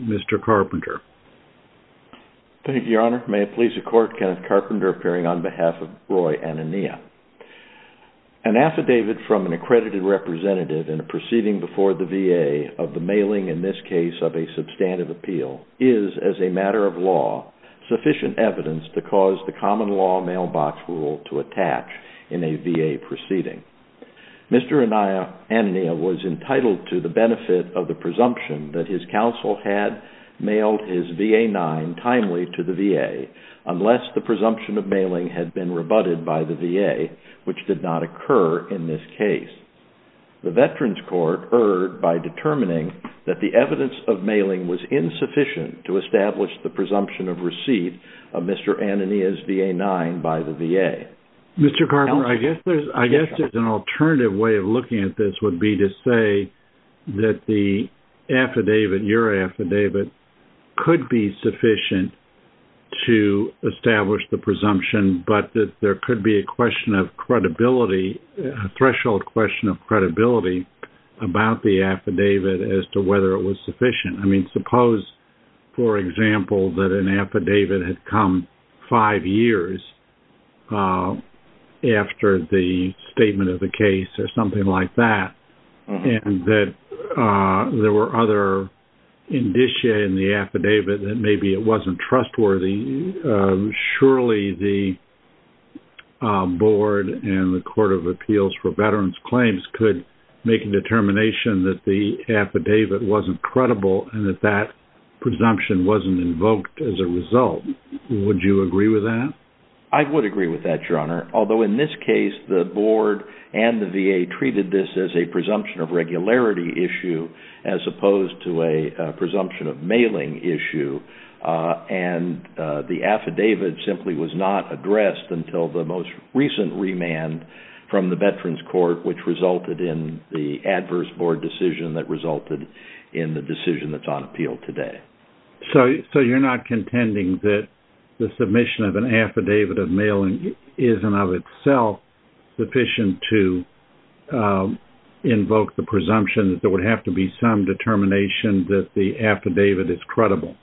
Mr. Carpenter. Thank you, Your Honor. May it please the Court, Kenneth Carpenter appearing on behalf of Roy Anania. An affidavit from an accredited representative in a proceeding before the VA of the mailing, in this case, of a substantive appeal is, as a matter of law, sufficient evidence to cause the common law mailbox rule to attach in a VA proceeding. Mr. Anania was entitled to the benefit of the presumption that his counsel had mailed his VA-9 timely to the VA, unless the presumption of mailing had been rebutted by the VA, which did not occur in this case. The Veterans Court erred by determining that the evidence of mailing was insufficient to establish the presumption of receipt of Mr. Anania's VA-9 by the VA. Mr. Carpenter, I guess there's an alternative way of looking at this would be to say that the affidavit, your affidavit, could be sufficient to establish the presumption, but that there could be a question of credibility, a threshold question of credibility about the affidavit as to whether it was sufficient. I mean, suppose, for example, that an affidavit had come five years after the statement of the case or something like that, and that there were other indicia in the affidavit that maybe it wasn't trustworthy. Surely, the board and the Court of Appeals for Veterans Claims could make a determination that the affidavit wasn't credible and that that presumption wasn't invoked as a result. Would you agree with that? I would agree with that, Your Honor, although in this case, the board and the VA treated this as a presumption of regularity issue as opposed to a presumption of mailing issue. The affidavit simply was not addressed until the most recent remand from the Veterans Court, which resulted in the adverse board decision that resulted in the decision that's on appeal today. So you're not contending that the submission of an affidavit of mailing isn't of itself sufficient to invoke the presumption that there would have to be some determination that the affidavit is credible?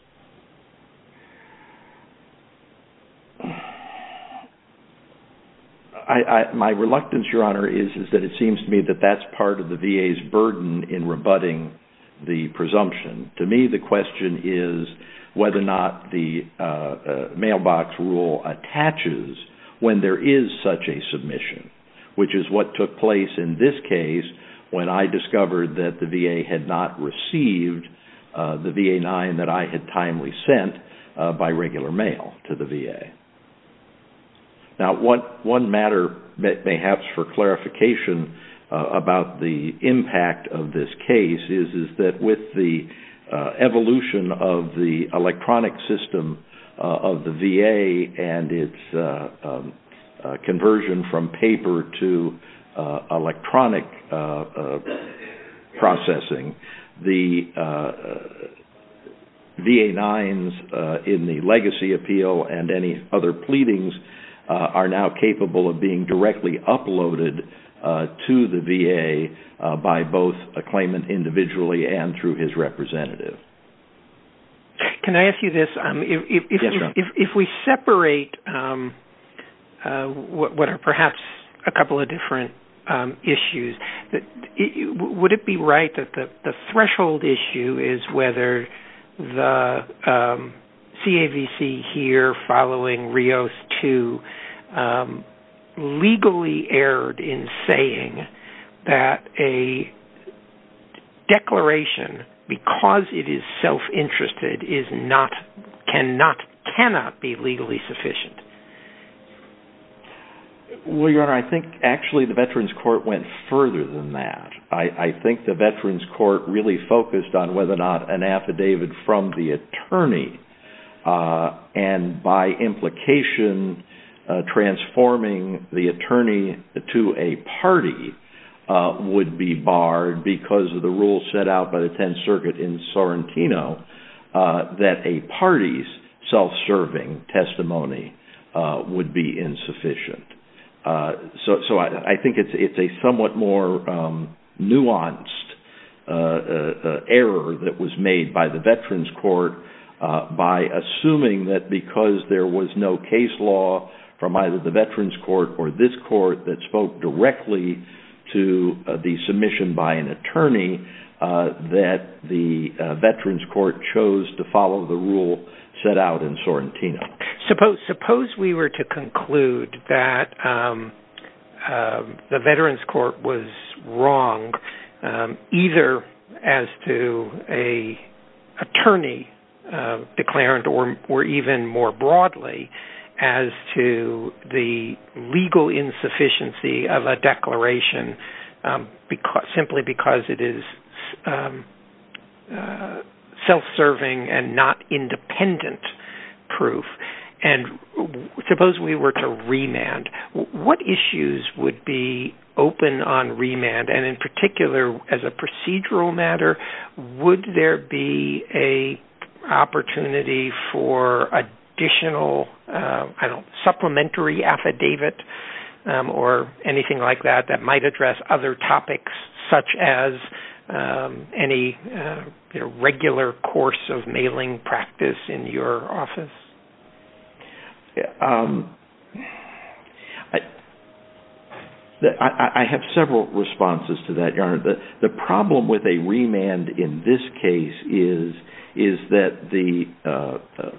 My reluctance, Your Honor, is that it seems to me that that's part of the VA's burden in rebutting the presumption. To me, the question is whether or not the mailbox rule attaches when there is such a submission, which is what took place in this case when I discovered that the VA had not received the VA-9 that I had timely sent by regular mail to the VA. Now, one matter perhaps for clarification about the impact of this case is that with the evolution of the electronic system of the VA and its conversion from paper to electronic processing, the VA-9s in the legacy appeal and any other pleadings are now capable of being directly uploaded to the VA by both a claimant individually and through his representative. Can I ask you this? Yes, Your Honor. If we separate what are perhaps a couple of different issues, would it be right that the threshold issue is whether the CAVC here following Rios II legally erred in saying that a declaration because it is self-interested cannot be legally sufficient? Well, Your Honor, I think actually the Veterans Court went further than that. I think the Veterans Court really focused on whether or not an affidavit from the attorney and by implication transforming the attorney to a party would be barred because of the rule set out by the Tenth Circuit in Sorrentino that a party's self-serving testimony would be insufficient. So I think it's a somewhat more nuanced error that was made by the Veterans Court by assuming that because there was no case law from either the Veterans Court or this court that spoke directly to the submission by an attorney that the Veterans Court chose to follow the rule set out in Sorrentino. Suppose we were to conclude that the Veterans Court was wrong either as to an attorney declarant or even more broadly as to the legal insufficiency of a declaration simply because it is self-serving and not independent proof and suppose we were to remand, what issues would be open on remand and in particular as a procedural matter would there be an opportunity for additional supplementary affidavit or anything like that that might address other topics such as any regular course of mailing practice in your office? I have several responses to that. The problem with a remand in this case is that the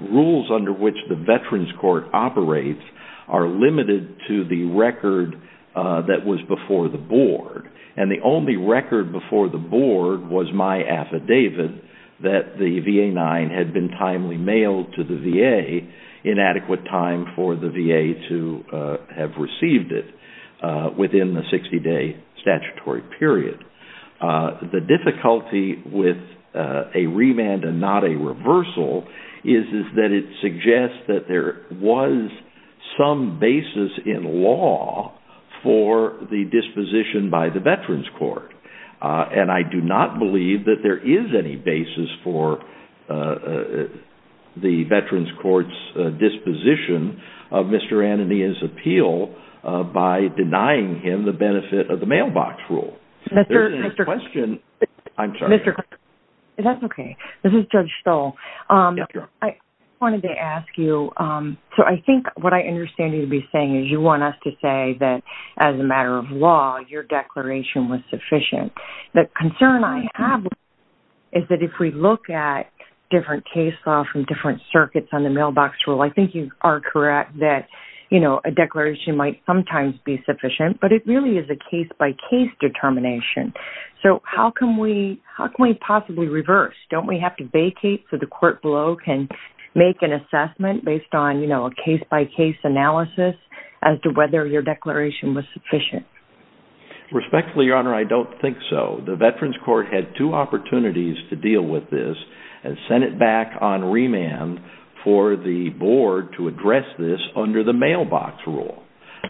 rules under which the Veterans Court operates are limited to the record that was before the board and the only record before the board was my affidavit that the VA-9 had been timely mailed to the VA in adequate time for the VA to have received it within the 60-day statutory period. The difficulty with a remand and not a reversal is that it suggests that there was some basis in law for the disposition by the Veterans Court and I do not believe that there is any basis for the Veterans Court's disposition of Mr. Antonin's appeal by denying him the benefit of the mailbox rule. There is a question. I'm sorry. That's okay. This is Judge Stoll. I wanted to ask you, so I think what I understand you to be saying is you want us to say that as a matter of law, your declaration was sufficient. The concern I have is that if we look at different case law from different circuits on the mailbox rule, I think you are correct that a declaration might sometimes be sufficient, but it really is a case-by-case determination. So how can we possibly reverse? Don't we have to vacate so the court below can make an assessment based on a case-by-case analysis as to whether your declaration was sufficient? Respectfully, Your Honor, I don't think so. The Veterans Court had two opportunities to deal with this and sent it back on remand for the board to address this under the mailbox rule.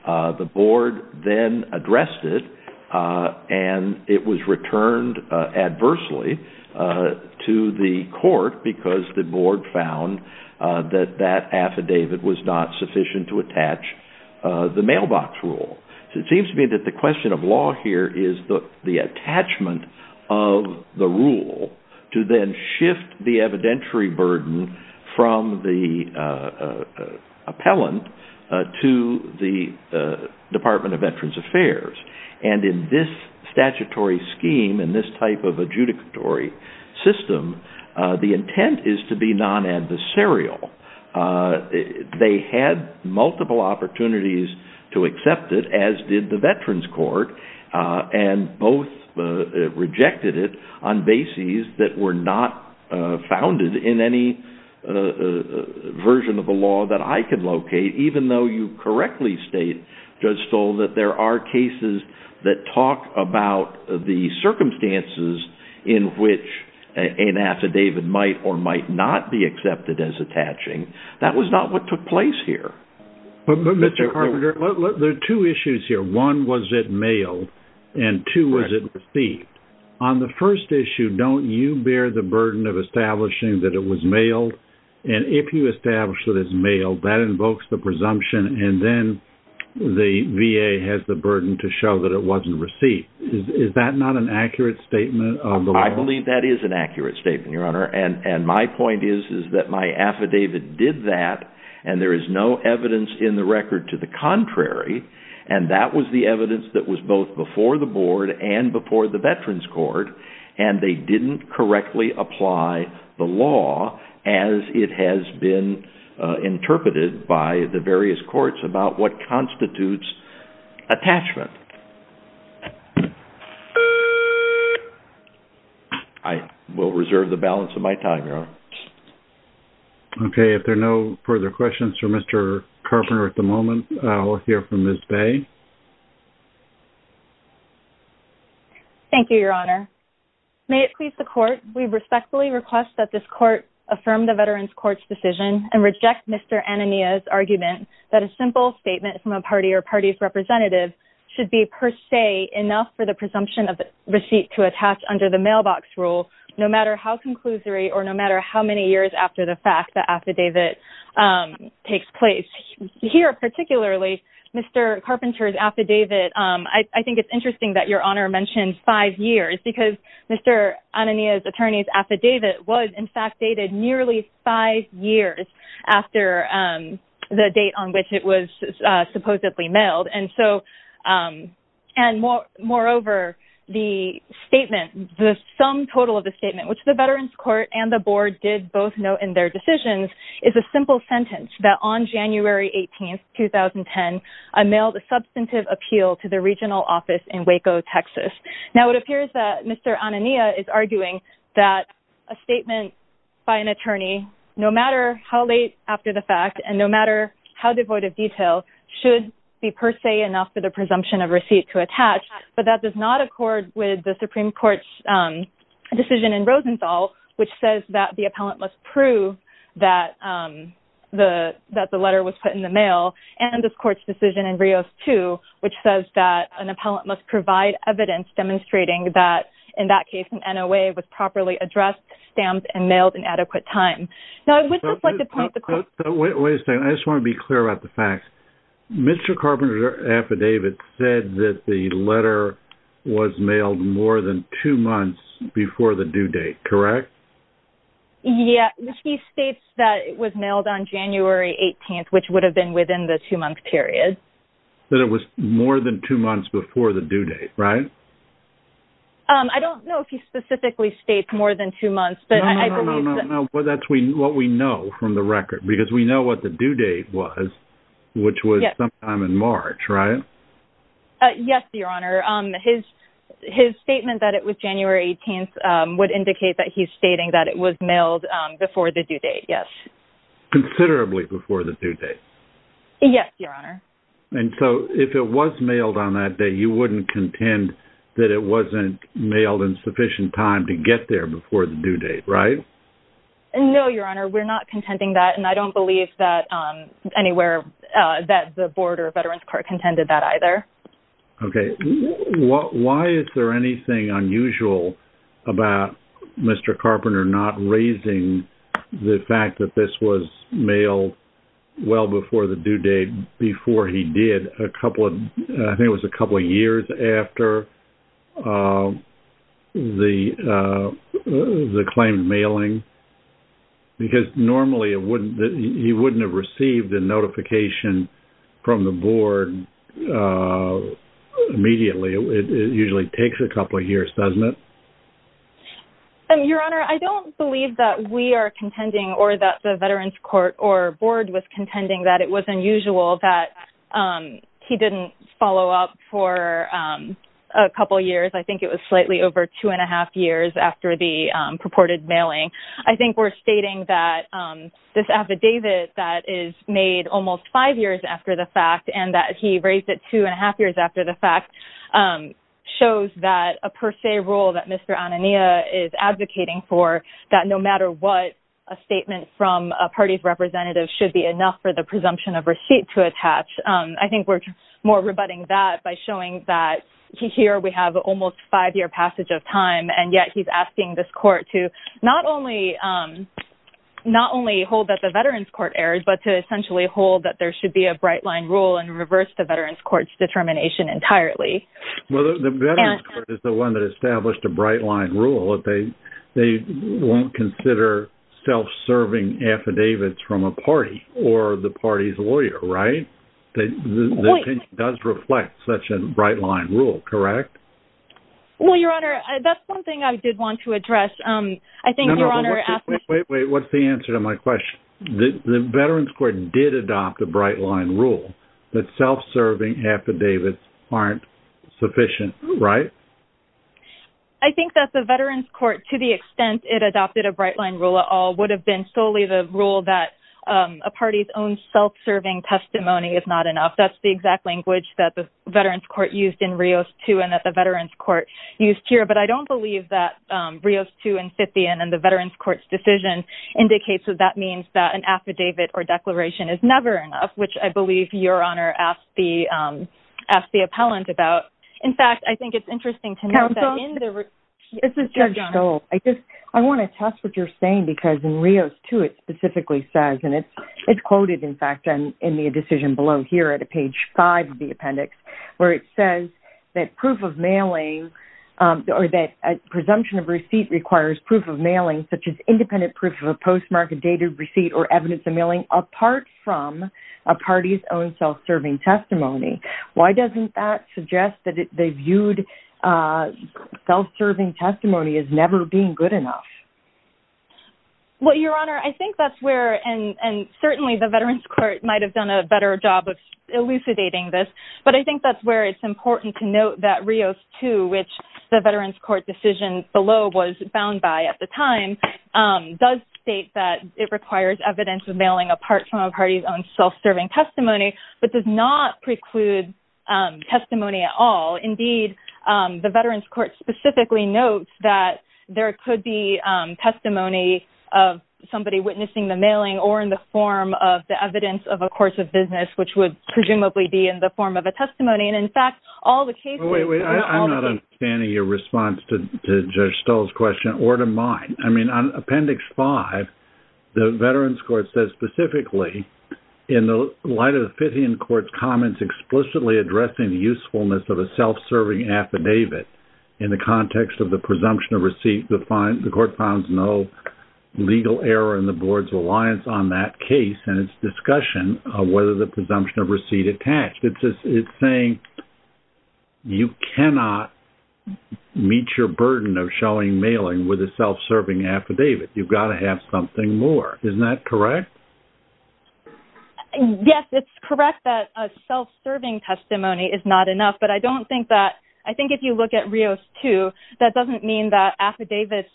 The board then addressed it and it was returned adversely to the court because the board found that that affidavit was not sufficient to attach the mailbox rule. It seems to me that the question of law here is the attachment of the rule to then shift the evidentiary burden from the appellant to the Department of Veterans Affairs. And in this statutory scheme, in this type of adjudicatory system, the intent is to be non-adversarial. They had multiple opportunities to accept it, as did the Veterans Court, and both rejected it on bases that were not founded in any version of the law that I can locate, even though you correctly state, Judge Stoll, that there are cases that talk about the circumstances in which an affidavit might or might not be accepted as attaching. That was not what took place here. But, Mr. Carpenter, there are two issues here. One, was it mailed? And two, was it received? On the first issue, don't you bear the burden of establishing that it was mailed? And if you establish that it's mailed, that invokes the presumption and then the VA has the burden to show that it wasn't received. Is that not an accurate statement of the law? I believe that is an accurate statement, Your Honor. And my point is that my affidavit did that, and there is no evidence in the record to the contrary, and that was the evidence that was both before the Board and before the Veterans Court, and they didn't correctly apply the law as it has been interpreted by the various courts about what constitutes attachment. I will reserve the balance of my time, Your Honor. Okay. If there are no further questions for Mr. Carpenter at the moment, we'll hear from Ms. Bay. Thank you, Your Honor. May it please the Court, we respectfully request that this Court affirm the Veterans Court's decision and reject Mr. Anania's argument that a simple statement from a party or party's representative should be per se enough for the presumption of receipt to attach under the mailbox rule, no matter how conclusory or no matter how many years after the fact the affidavit takes place. Here particularly, Mr. Carpenter's affidavit, I think it's interesting that Your Honor mentioned five years, because Mr. Anania's attorney's affidavit was in fact dated nearly five years after the date on which it was supposedly mailed. Moreover, the sum total of the statement, which the Veterans Court and the Board did both note in their decisions, is a simple sentence that on January 18, 2010, I mailed a substantive appeal to the regional office in Waco, Texas. Now, it appears that Mr. Anania is arguing that a statement by an attorney, no matter how late after the fact and no matter how devoid of detail, should be per se enough for the presumption of receipt to attach, but that does not accord with the Supreme Court's decision in Rosenthal, which says that the appellant must prove that the letter was put in the mail, and this Court's decision in Rios, too, which says that an appellant must provide evidence demonstrating that, in that case, an NOA was properly addressed, stamped, and mailed in adequate time. Wait a second. I just want to be clear about the facts. Mr. Carpenter's affidavit said that the letter was mailed more than two months before the due date, correct? Yeah. He states that it was mailed on January 18, which would have been within the two-month period. That it was more than two months before the due date, right? I don't know if he specifically states more than two months, but I believe that... Well, that's what we know from the record, because we know what the due date was, which was sometime in March, right? Yes, Your Honor. His statement that it was January 18 would indicate that he's stating that it was mailed before the due date, yes. Considerably before the due date? Yes, Your Honor. And so if it was mailed on that day, you wouldn't contend that it wasn't mailed in sufficient time to get there before the due date, right? No, Your Honor. We're not contending that, and I don't believe that the Board or Veterans Court contended that either. Okay. Why is there anything unusual about Mr. Carpenter not raising the fact that this was mailed well before the due date, before he did? I think it was a couple of years after the claimed mailing, because normally he wouldn't have received a notification from the Board immediately. It usually takes a couple of years, doesn't it? Your Honor, I don't believe that we are contending or that the Veterans Court or Board was contending that it was unusual that he didn't follow up for a couple years. I think it was slightly over two and a half years after the purported mailing. I think we're stating that this affidavit that is made almost five years after the fact and that he raised it two and a half years after the fact shows that a per se rule that Mr. Anania is advocating for, that no matter what a statement from a party's representative should be enough for the presumption of receipt to attach. I think we're more rebutting that by showing that here we have almost a five-year passage of time, and yet he's asking this court to not only hold that the Veterans Court erred, but to essentially hold that there should be a bright-line rule and reverse the Veterans Court's determination entirely. Well, the Veterans Court is the one that established a bright-line rule. They won't consider self-serving affidavits from a party or the party's lawyer, right? The opinion does reflect such a bright-line rule, correct? Well, Your Honor, that's one thing I did want to address. Wait, wait, what's the answer to my question? The Veterans Court did adopt a bright-line rule that self-serving affidavits aren't sufficient, right? I think that the Veterans Court, to the extent it adopted a bright-line rule at all, would have been solely the rule that a party's own self-serving testimony is not enough. That's the exact language that the Veterans Court used in Rios 2 and that the Veterans Court used here, but I don't believe that Rios 2 and Scythian and the Veterans Court's decision indicates that that means that an affidavit or declaration is never enough, which I believe Your Honor asked the appellant about. In fact, I think it's interesting to note that in the… Counsel, this is Judge Dole. I want to test what you're saying because in Rios 2, it specifically says, and it's quoted, in fact, in the decision below here at page 5 of the appendix, where it says that proof of mailing or that presumption of receipt requires proof of mailing, such as independent proof of a postmark, dated receipt, or evidence of mailing, apart from a party's own self-serving testimony. Why doesn't that suggest that they viewed self-serving testimony as never being good enough? Well, Your Honor, I think that's where, and certainly the Veterans Court might have done a better job of elucidating this, but I think that's where it's important to note that Rios 2, which the Veterans Court decision below was bound by at the time, does state that it requires evidence of mailing apart from a party's own self-serving testimony, but does not preclude testimony at all. Indeed, the Veterans Court specifically notes that there could be testimony of somebody witnessing the mailing or in the form of the evidence of a course of business, which would presumably be in the form of a testimony. And, in fact, all the cases… Wait, wait. I'm not understanding your response to Judge Stull's question or to mine. I mean, on Appendix 5, the Veterans Court says specifically, in the light of the Fittian Court's comments explicitly addressing the usefulness of a self-serving affidavit in the context of the presumption of receipt, the court found no legal error in the Board's reliance on that case and its discussion of whether the presumption of receipt attached. It's saying you cannot meet your burden of showing mailing with a self-serving affidavit. You've got to have something more. Isn't that correct? Yes, it's correct that a self-serving testimony is not enough, but I don't think that… I think if you look at Rios 2, that doesn't mean that affidavits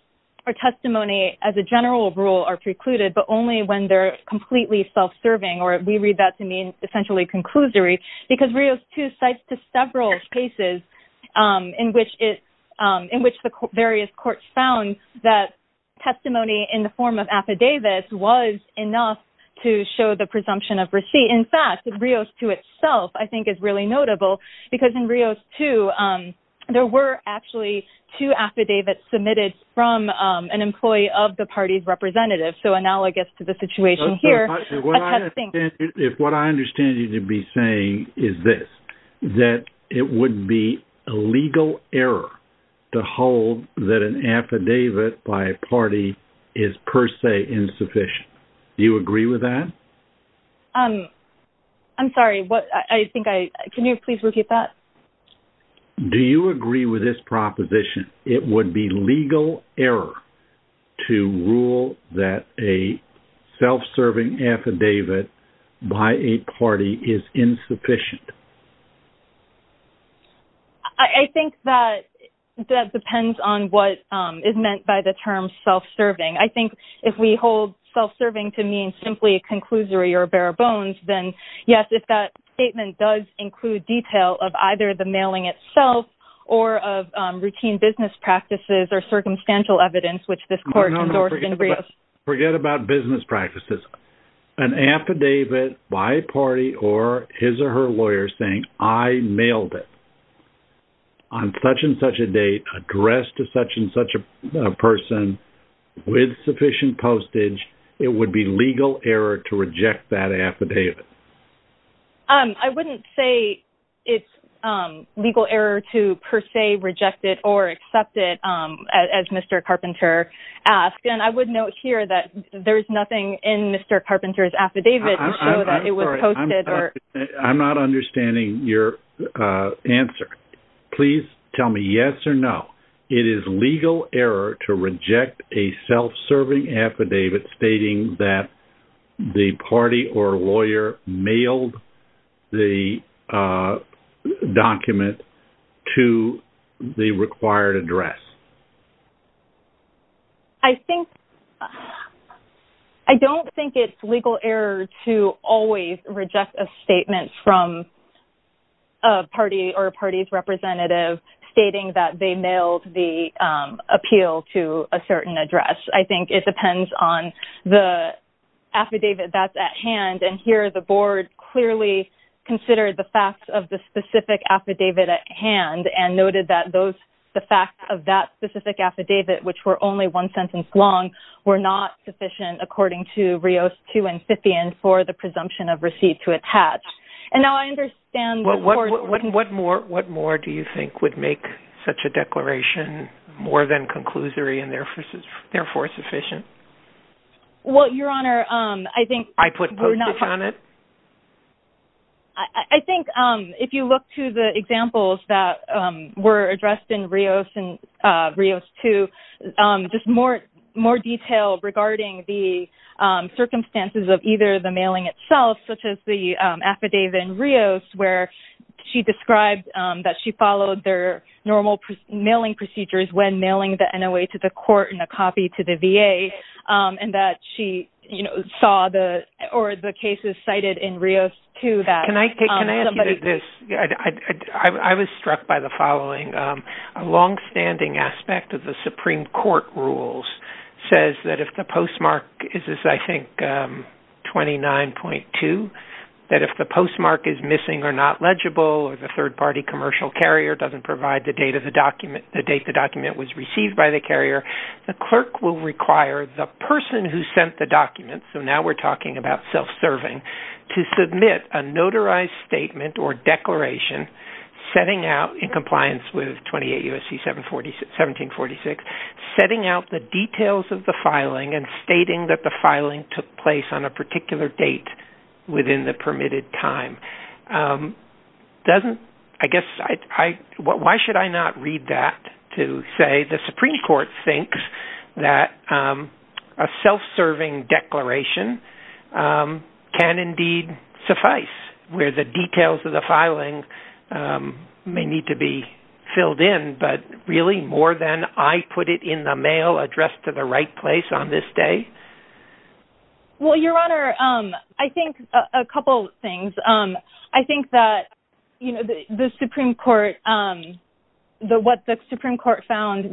or testimony as a general rule are precluded, but only when they're completely self-serving, or we read that to mean essentially conclusory, because Rios 2 cites several cases in which the various courts found that testimony in the form of affidavits was enough to show the presumption of receipt. In fact, Rios 2 itself, I think, is really notable because in Rios 2, there were actually two affidavits submitted from an employee of the party's representative. So analogous to the situation here, attesting… If what I understand you to be saying is this, that it would be a legal error to hold that an affidavit by a party is per se insufficient, do you agree with that? I'm sorry. I think I… Can you please repeat that? Do you agree with this proposition? It would be legal error to rule that a self-serving affidavit by a party is insufficient. I think that depends on what is meant by the term self-serving. I think if we hold self-serving to mean simply a conclusory or bare bones, then yes, if that statement does include detail of either the mailing itself or of routine business practices or circumstantial evidence, which this court… No, no, no. Forget about business practices. An affidavit by a party or his or her lawyer saying, I mailed it on such and such a date addressed to such and such a person with sufficient postage, it would be legal error to reject that affidavit. I wouldn't say it's legal error to per se reject it or accept it, as Mr. Carpenter asked. And I would note here that there is nothing in Mr. Carpenter's affidavit to show that it was posted or… I'm sorry. I'm not understanding your answer. Please tell me yes or no. It is legal error to reject a self-serving affidavit stating that the party or lawyer mailed the document to the required address. I don't think it's legal error to always reject a statement from a party or a party's representative stating that they mailed the appeal to a certain address. I think it depends on the affidavit that's at hand. And here the board clearly considered the facts of the specific affidavit at hand and noted that the facts of that specific affidavit, which were only one sentence long, were not sufficient according to Rios 2 and 50 and for the presumption of receipt to attach. And now I understand… What more do you think would make such a declaration more than conclusory and therefore sufficient? Well, Your Honor, I think… I put postage on it? I think if you look to the examples that were addressed in Rios 2, just more detail regarding the circumstances of either the mailing itself, such as the affidavit in Rios where she described that she followed their normal mailing procedures when mailing the NOA to the court and a copy to the VA, and that she saw the cases cited in Rios 2 that… Can I ask you this? I was struck by the following. A longstanding aspect of the Supreme Court rules says that if the postmark is, I think, 29.2, that if the postmark is missing or not legible or the third-party commercial carrier doesn't provide the date the document was received by the carrier, the clerk will require the person who sent the document, so now we're talking about self-serving, to submit a notarized statement or declaration setting out, in compliance with 28 U.S.C. 1746, setting out the details of the filing and stating that the filing took place on a particular date within the permitted time. Why should I not read that to say the Supreme Court thinks that a self-serving declaration can indeed suffice, where the details of the filing may need to be filled in, but really more than I put it in the mail addressed to the right place on this day? Well, Your Honor, I think a couple things. I think that what the Supreme Court found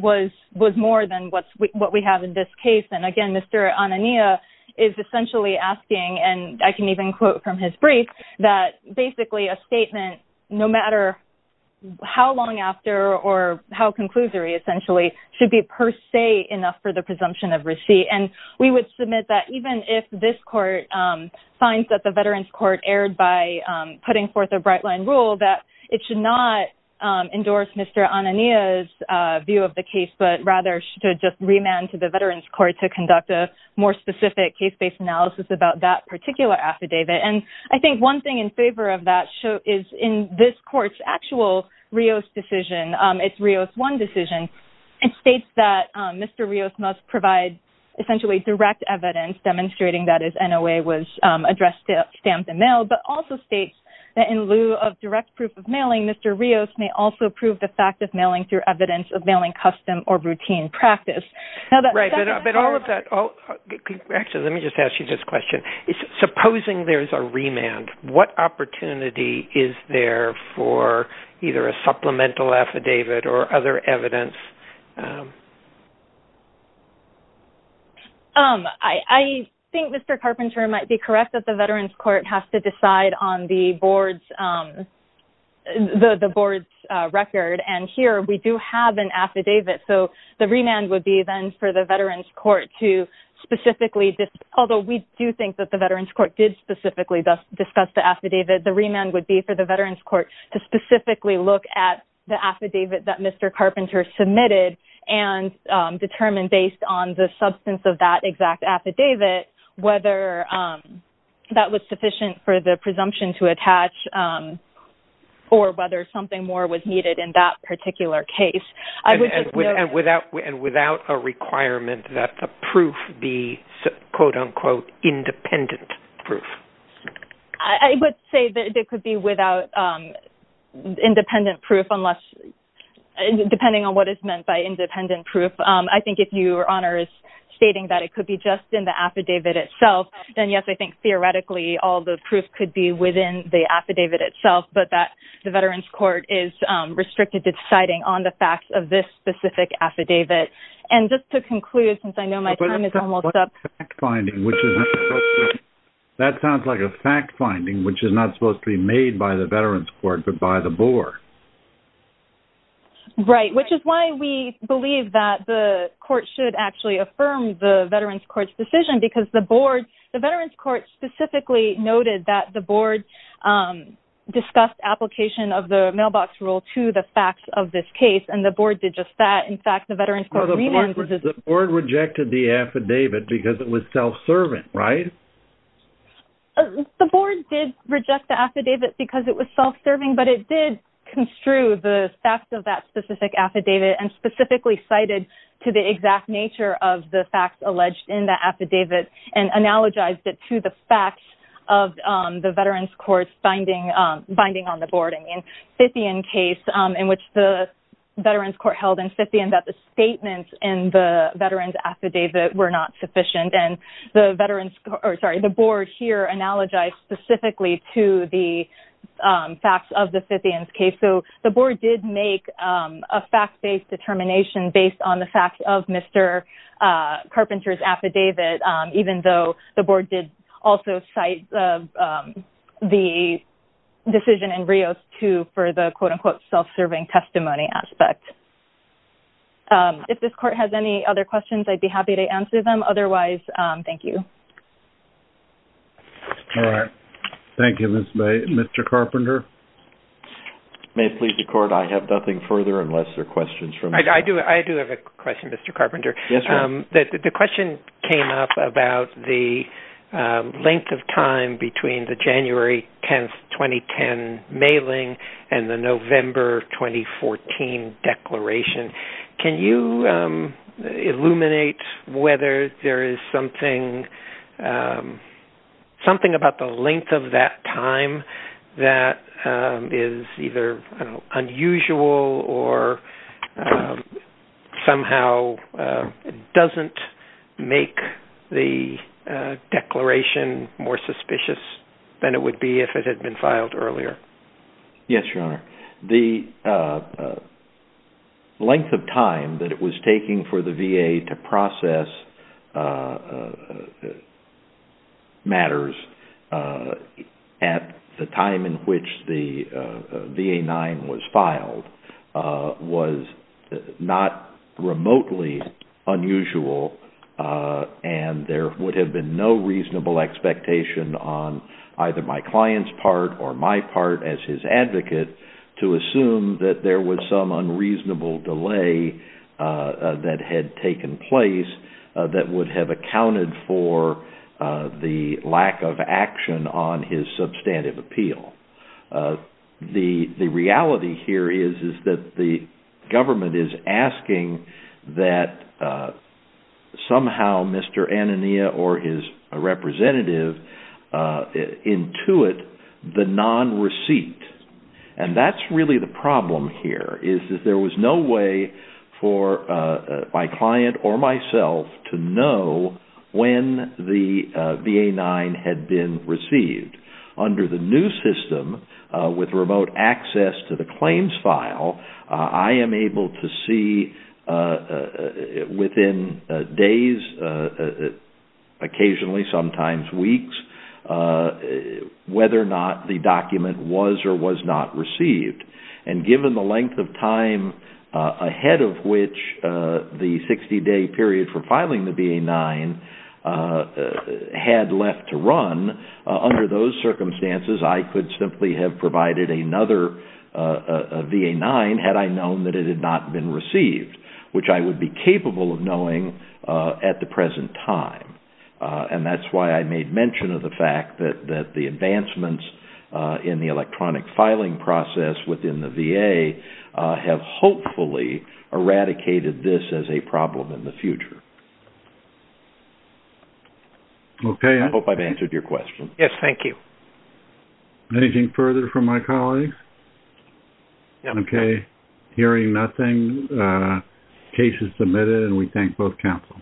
was more than what we have in this case, and again, Mr. Anania is essentially asking, and I can even quote from his brief, that basically a statement, no matter how long after or how conclusory, essentially, should be per se enough for the presumption of receipt, and we would submit that even if this court finds that the Veterans Court erred by putting forth a bright-line rule, that it should not endorse Mr. Anania's view of the case, but rather should just remand to the Veterans Court to conduct a more specific case-based analysis about that particular affidavit, and I think one thing in favor of that is in this court's actual Rios decision, its Rios 1 decision, it states that Mr. Rios must provide essentially direct evidence demonstrating that his NOA was addressed, stamped, and mailed, but also states that in lieu of direct proof of mailing, Mr. Rios may also prove the fact of mailing through evidence of mailing custom or routine practice. Right, but all of that-actually, let me just ask you this question. Supposing there's a remand, what opportunity is there for either a supplemental affidavit or other evidence? I think Mr. Carpenter might be correct that the Veterans Court has to decide on the board's record, and here we do have an affidavit, so the remand would be then for the Veterans Court to specifically- although we do think that the Veterans Court did specifically discuss the affidavit-the remand would be for the Veterans Court to specifically look at the affidavit that Mr. Carpenter submitted and determine based on the substance of that exact affidavit whether that was sufficient for the presumption to attach or whether something more was needed in that particular case. And without a requirement that the proof be, quote-unquote, independent proof? I would say that it could be without independent proof, depending on what is meant by independent proof. I think if Your Honor is stating that it could be just in the affidavit itself, then yes, I think theoretically all the proof could be within the affidavit itself, but that the Veterans Court is restricted to deciding on the facts of this specific affidavit. And just to conclude, since I know my time is almost up- That sounds like a fact finding, which is not supposed to be made by the Veterans Court, but by the board. Right, which is why we believe that the court should actually affirm the Veterans Court's decision, because the board, the Veterans Court specifically noted that the board discussed application of the mailbox rule to the facts of this case, and the board did just that. In fact, the Veterans Court- The board rejected the affidavit because it was self-serving, right? The board did reject the affidavit because it was self-serving, but it did construe the facts of that specific affidavit and specifically cited to the exact nature of the facts alleged in the affidavit and analogized it to the facts of the Veterans Court's binding on the board. In the Scythian case, in which the Veterans Court held in Scythian that the statements in the Veterans affidavit were not sufficient, and the board here analogized specifically to the facts of the Scythian case. So the board did make a fact-based determination based on the facts of Mr. Carpenter's affidavit, even though the board did also cite the decision in Rios 2 for the quote-unquote self-serving testimony aspect. If this court has any other questions, I'd be happy to answer them. Otherwise, thank you. All right. Thank you, Ms. May. Mr. Carpenter? May it please the Court, I have nothing further unless there are questions from staff. I do have a question, Mr. Carpenter. Yes, sir. The question came up about the length of time between the January 10, 2010 mailing and the November 2014 declaration. Can you illuminate whether there is something about the length of that time that is either unusual or somehow doesn't make the declaration more suspicious than it would be if it had been filed earlier? Yes, Your Honor. The length of time that it was taking for the VA to process matters at the time in which the VA-9 was filed was not remotely unusual and there would have been no reasonable expectation on either my client's part or my part as his advocate to assume that there was some unreasonable delay that had taken place that would have accounted for the lack of action on his substantive appeal. The reality here is that the government is asking that somehow Mr. Anania or his representative intuit the non-receipt. And that's really the problem here is that there was no way for my client or myself to know when the VA-9 had been received. Under the new system with remote access to the claims file, I am able to see within days, occasionally sometimes weeks, whether or not the document was or was not received. And given the length of time ahead of which the 60 day period for filing the VA-9 had left to run, under those circumstances, I could simply have provided another VA-9 had I known that it had not been received, which I would be capable of knowing at the present time. And that's why I made mention of the fact that the advancements in the electronic filing process within the VA have hopefully eradicated this as a problem in the future. Okay. I hope I've answered your question. Yes, thank you. Anything further from my colleagues? No. Okay. Hearing nothing, case is submitted and we thank both counsel.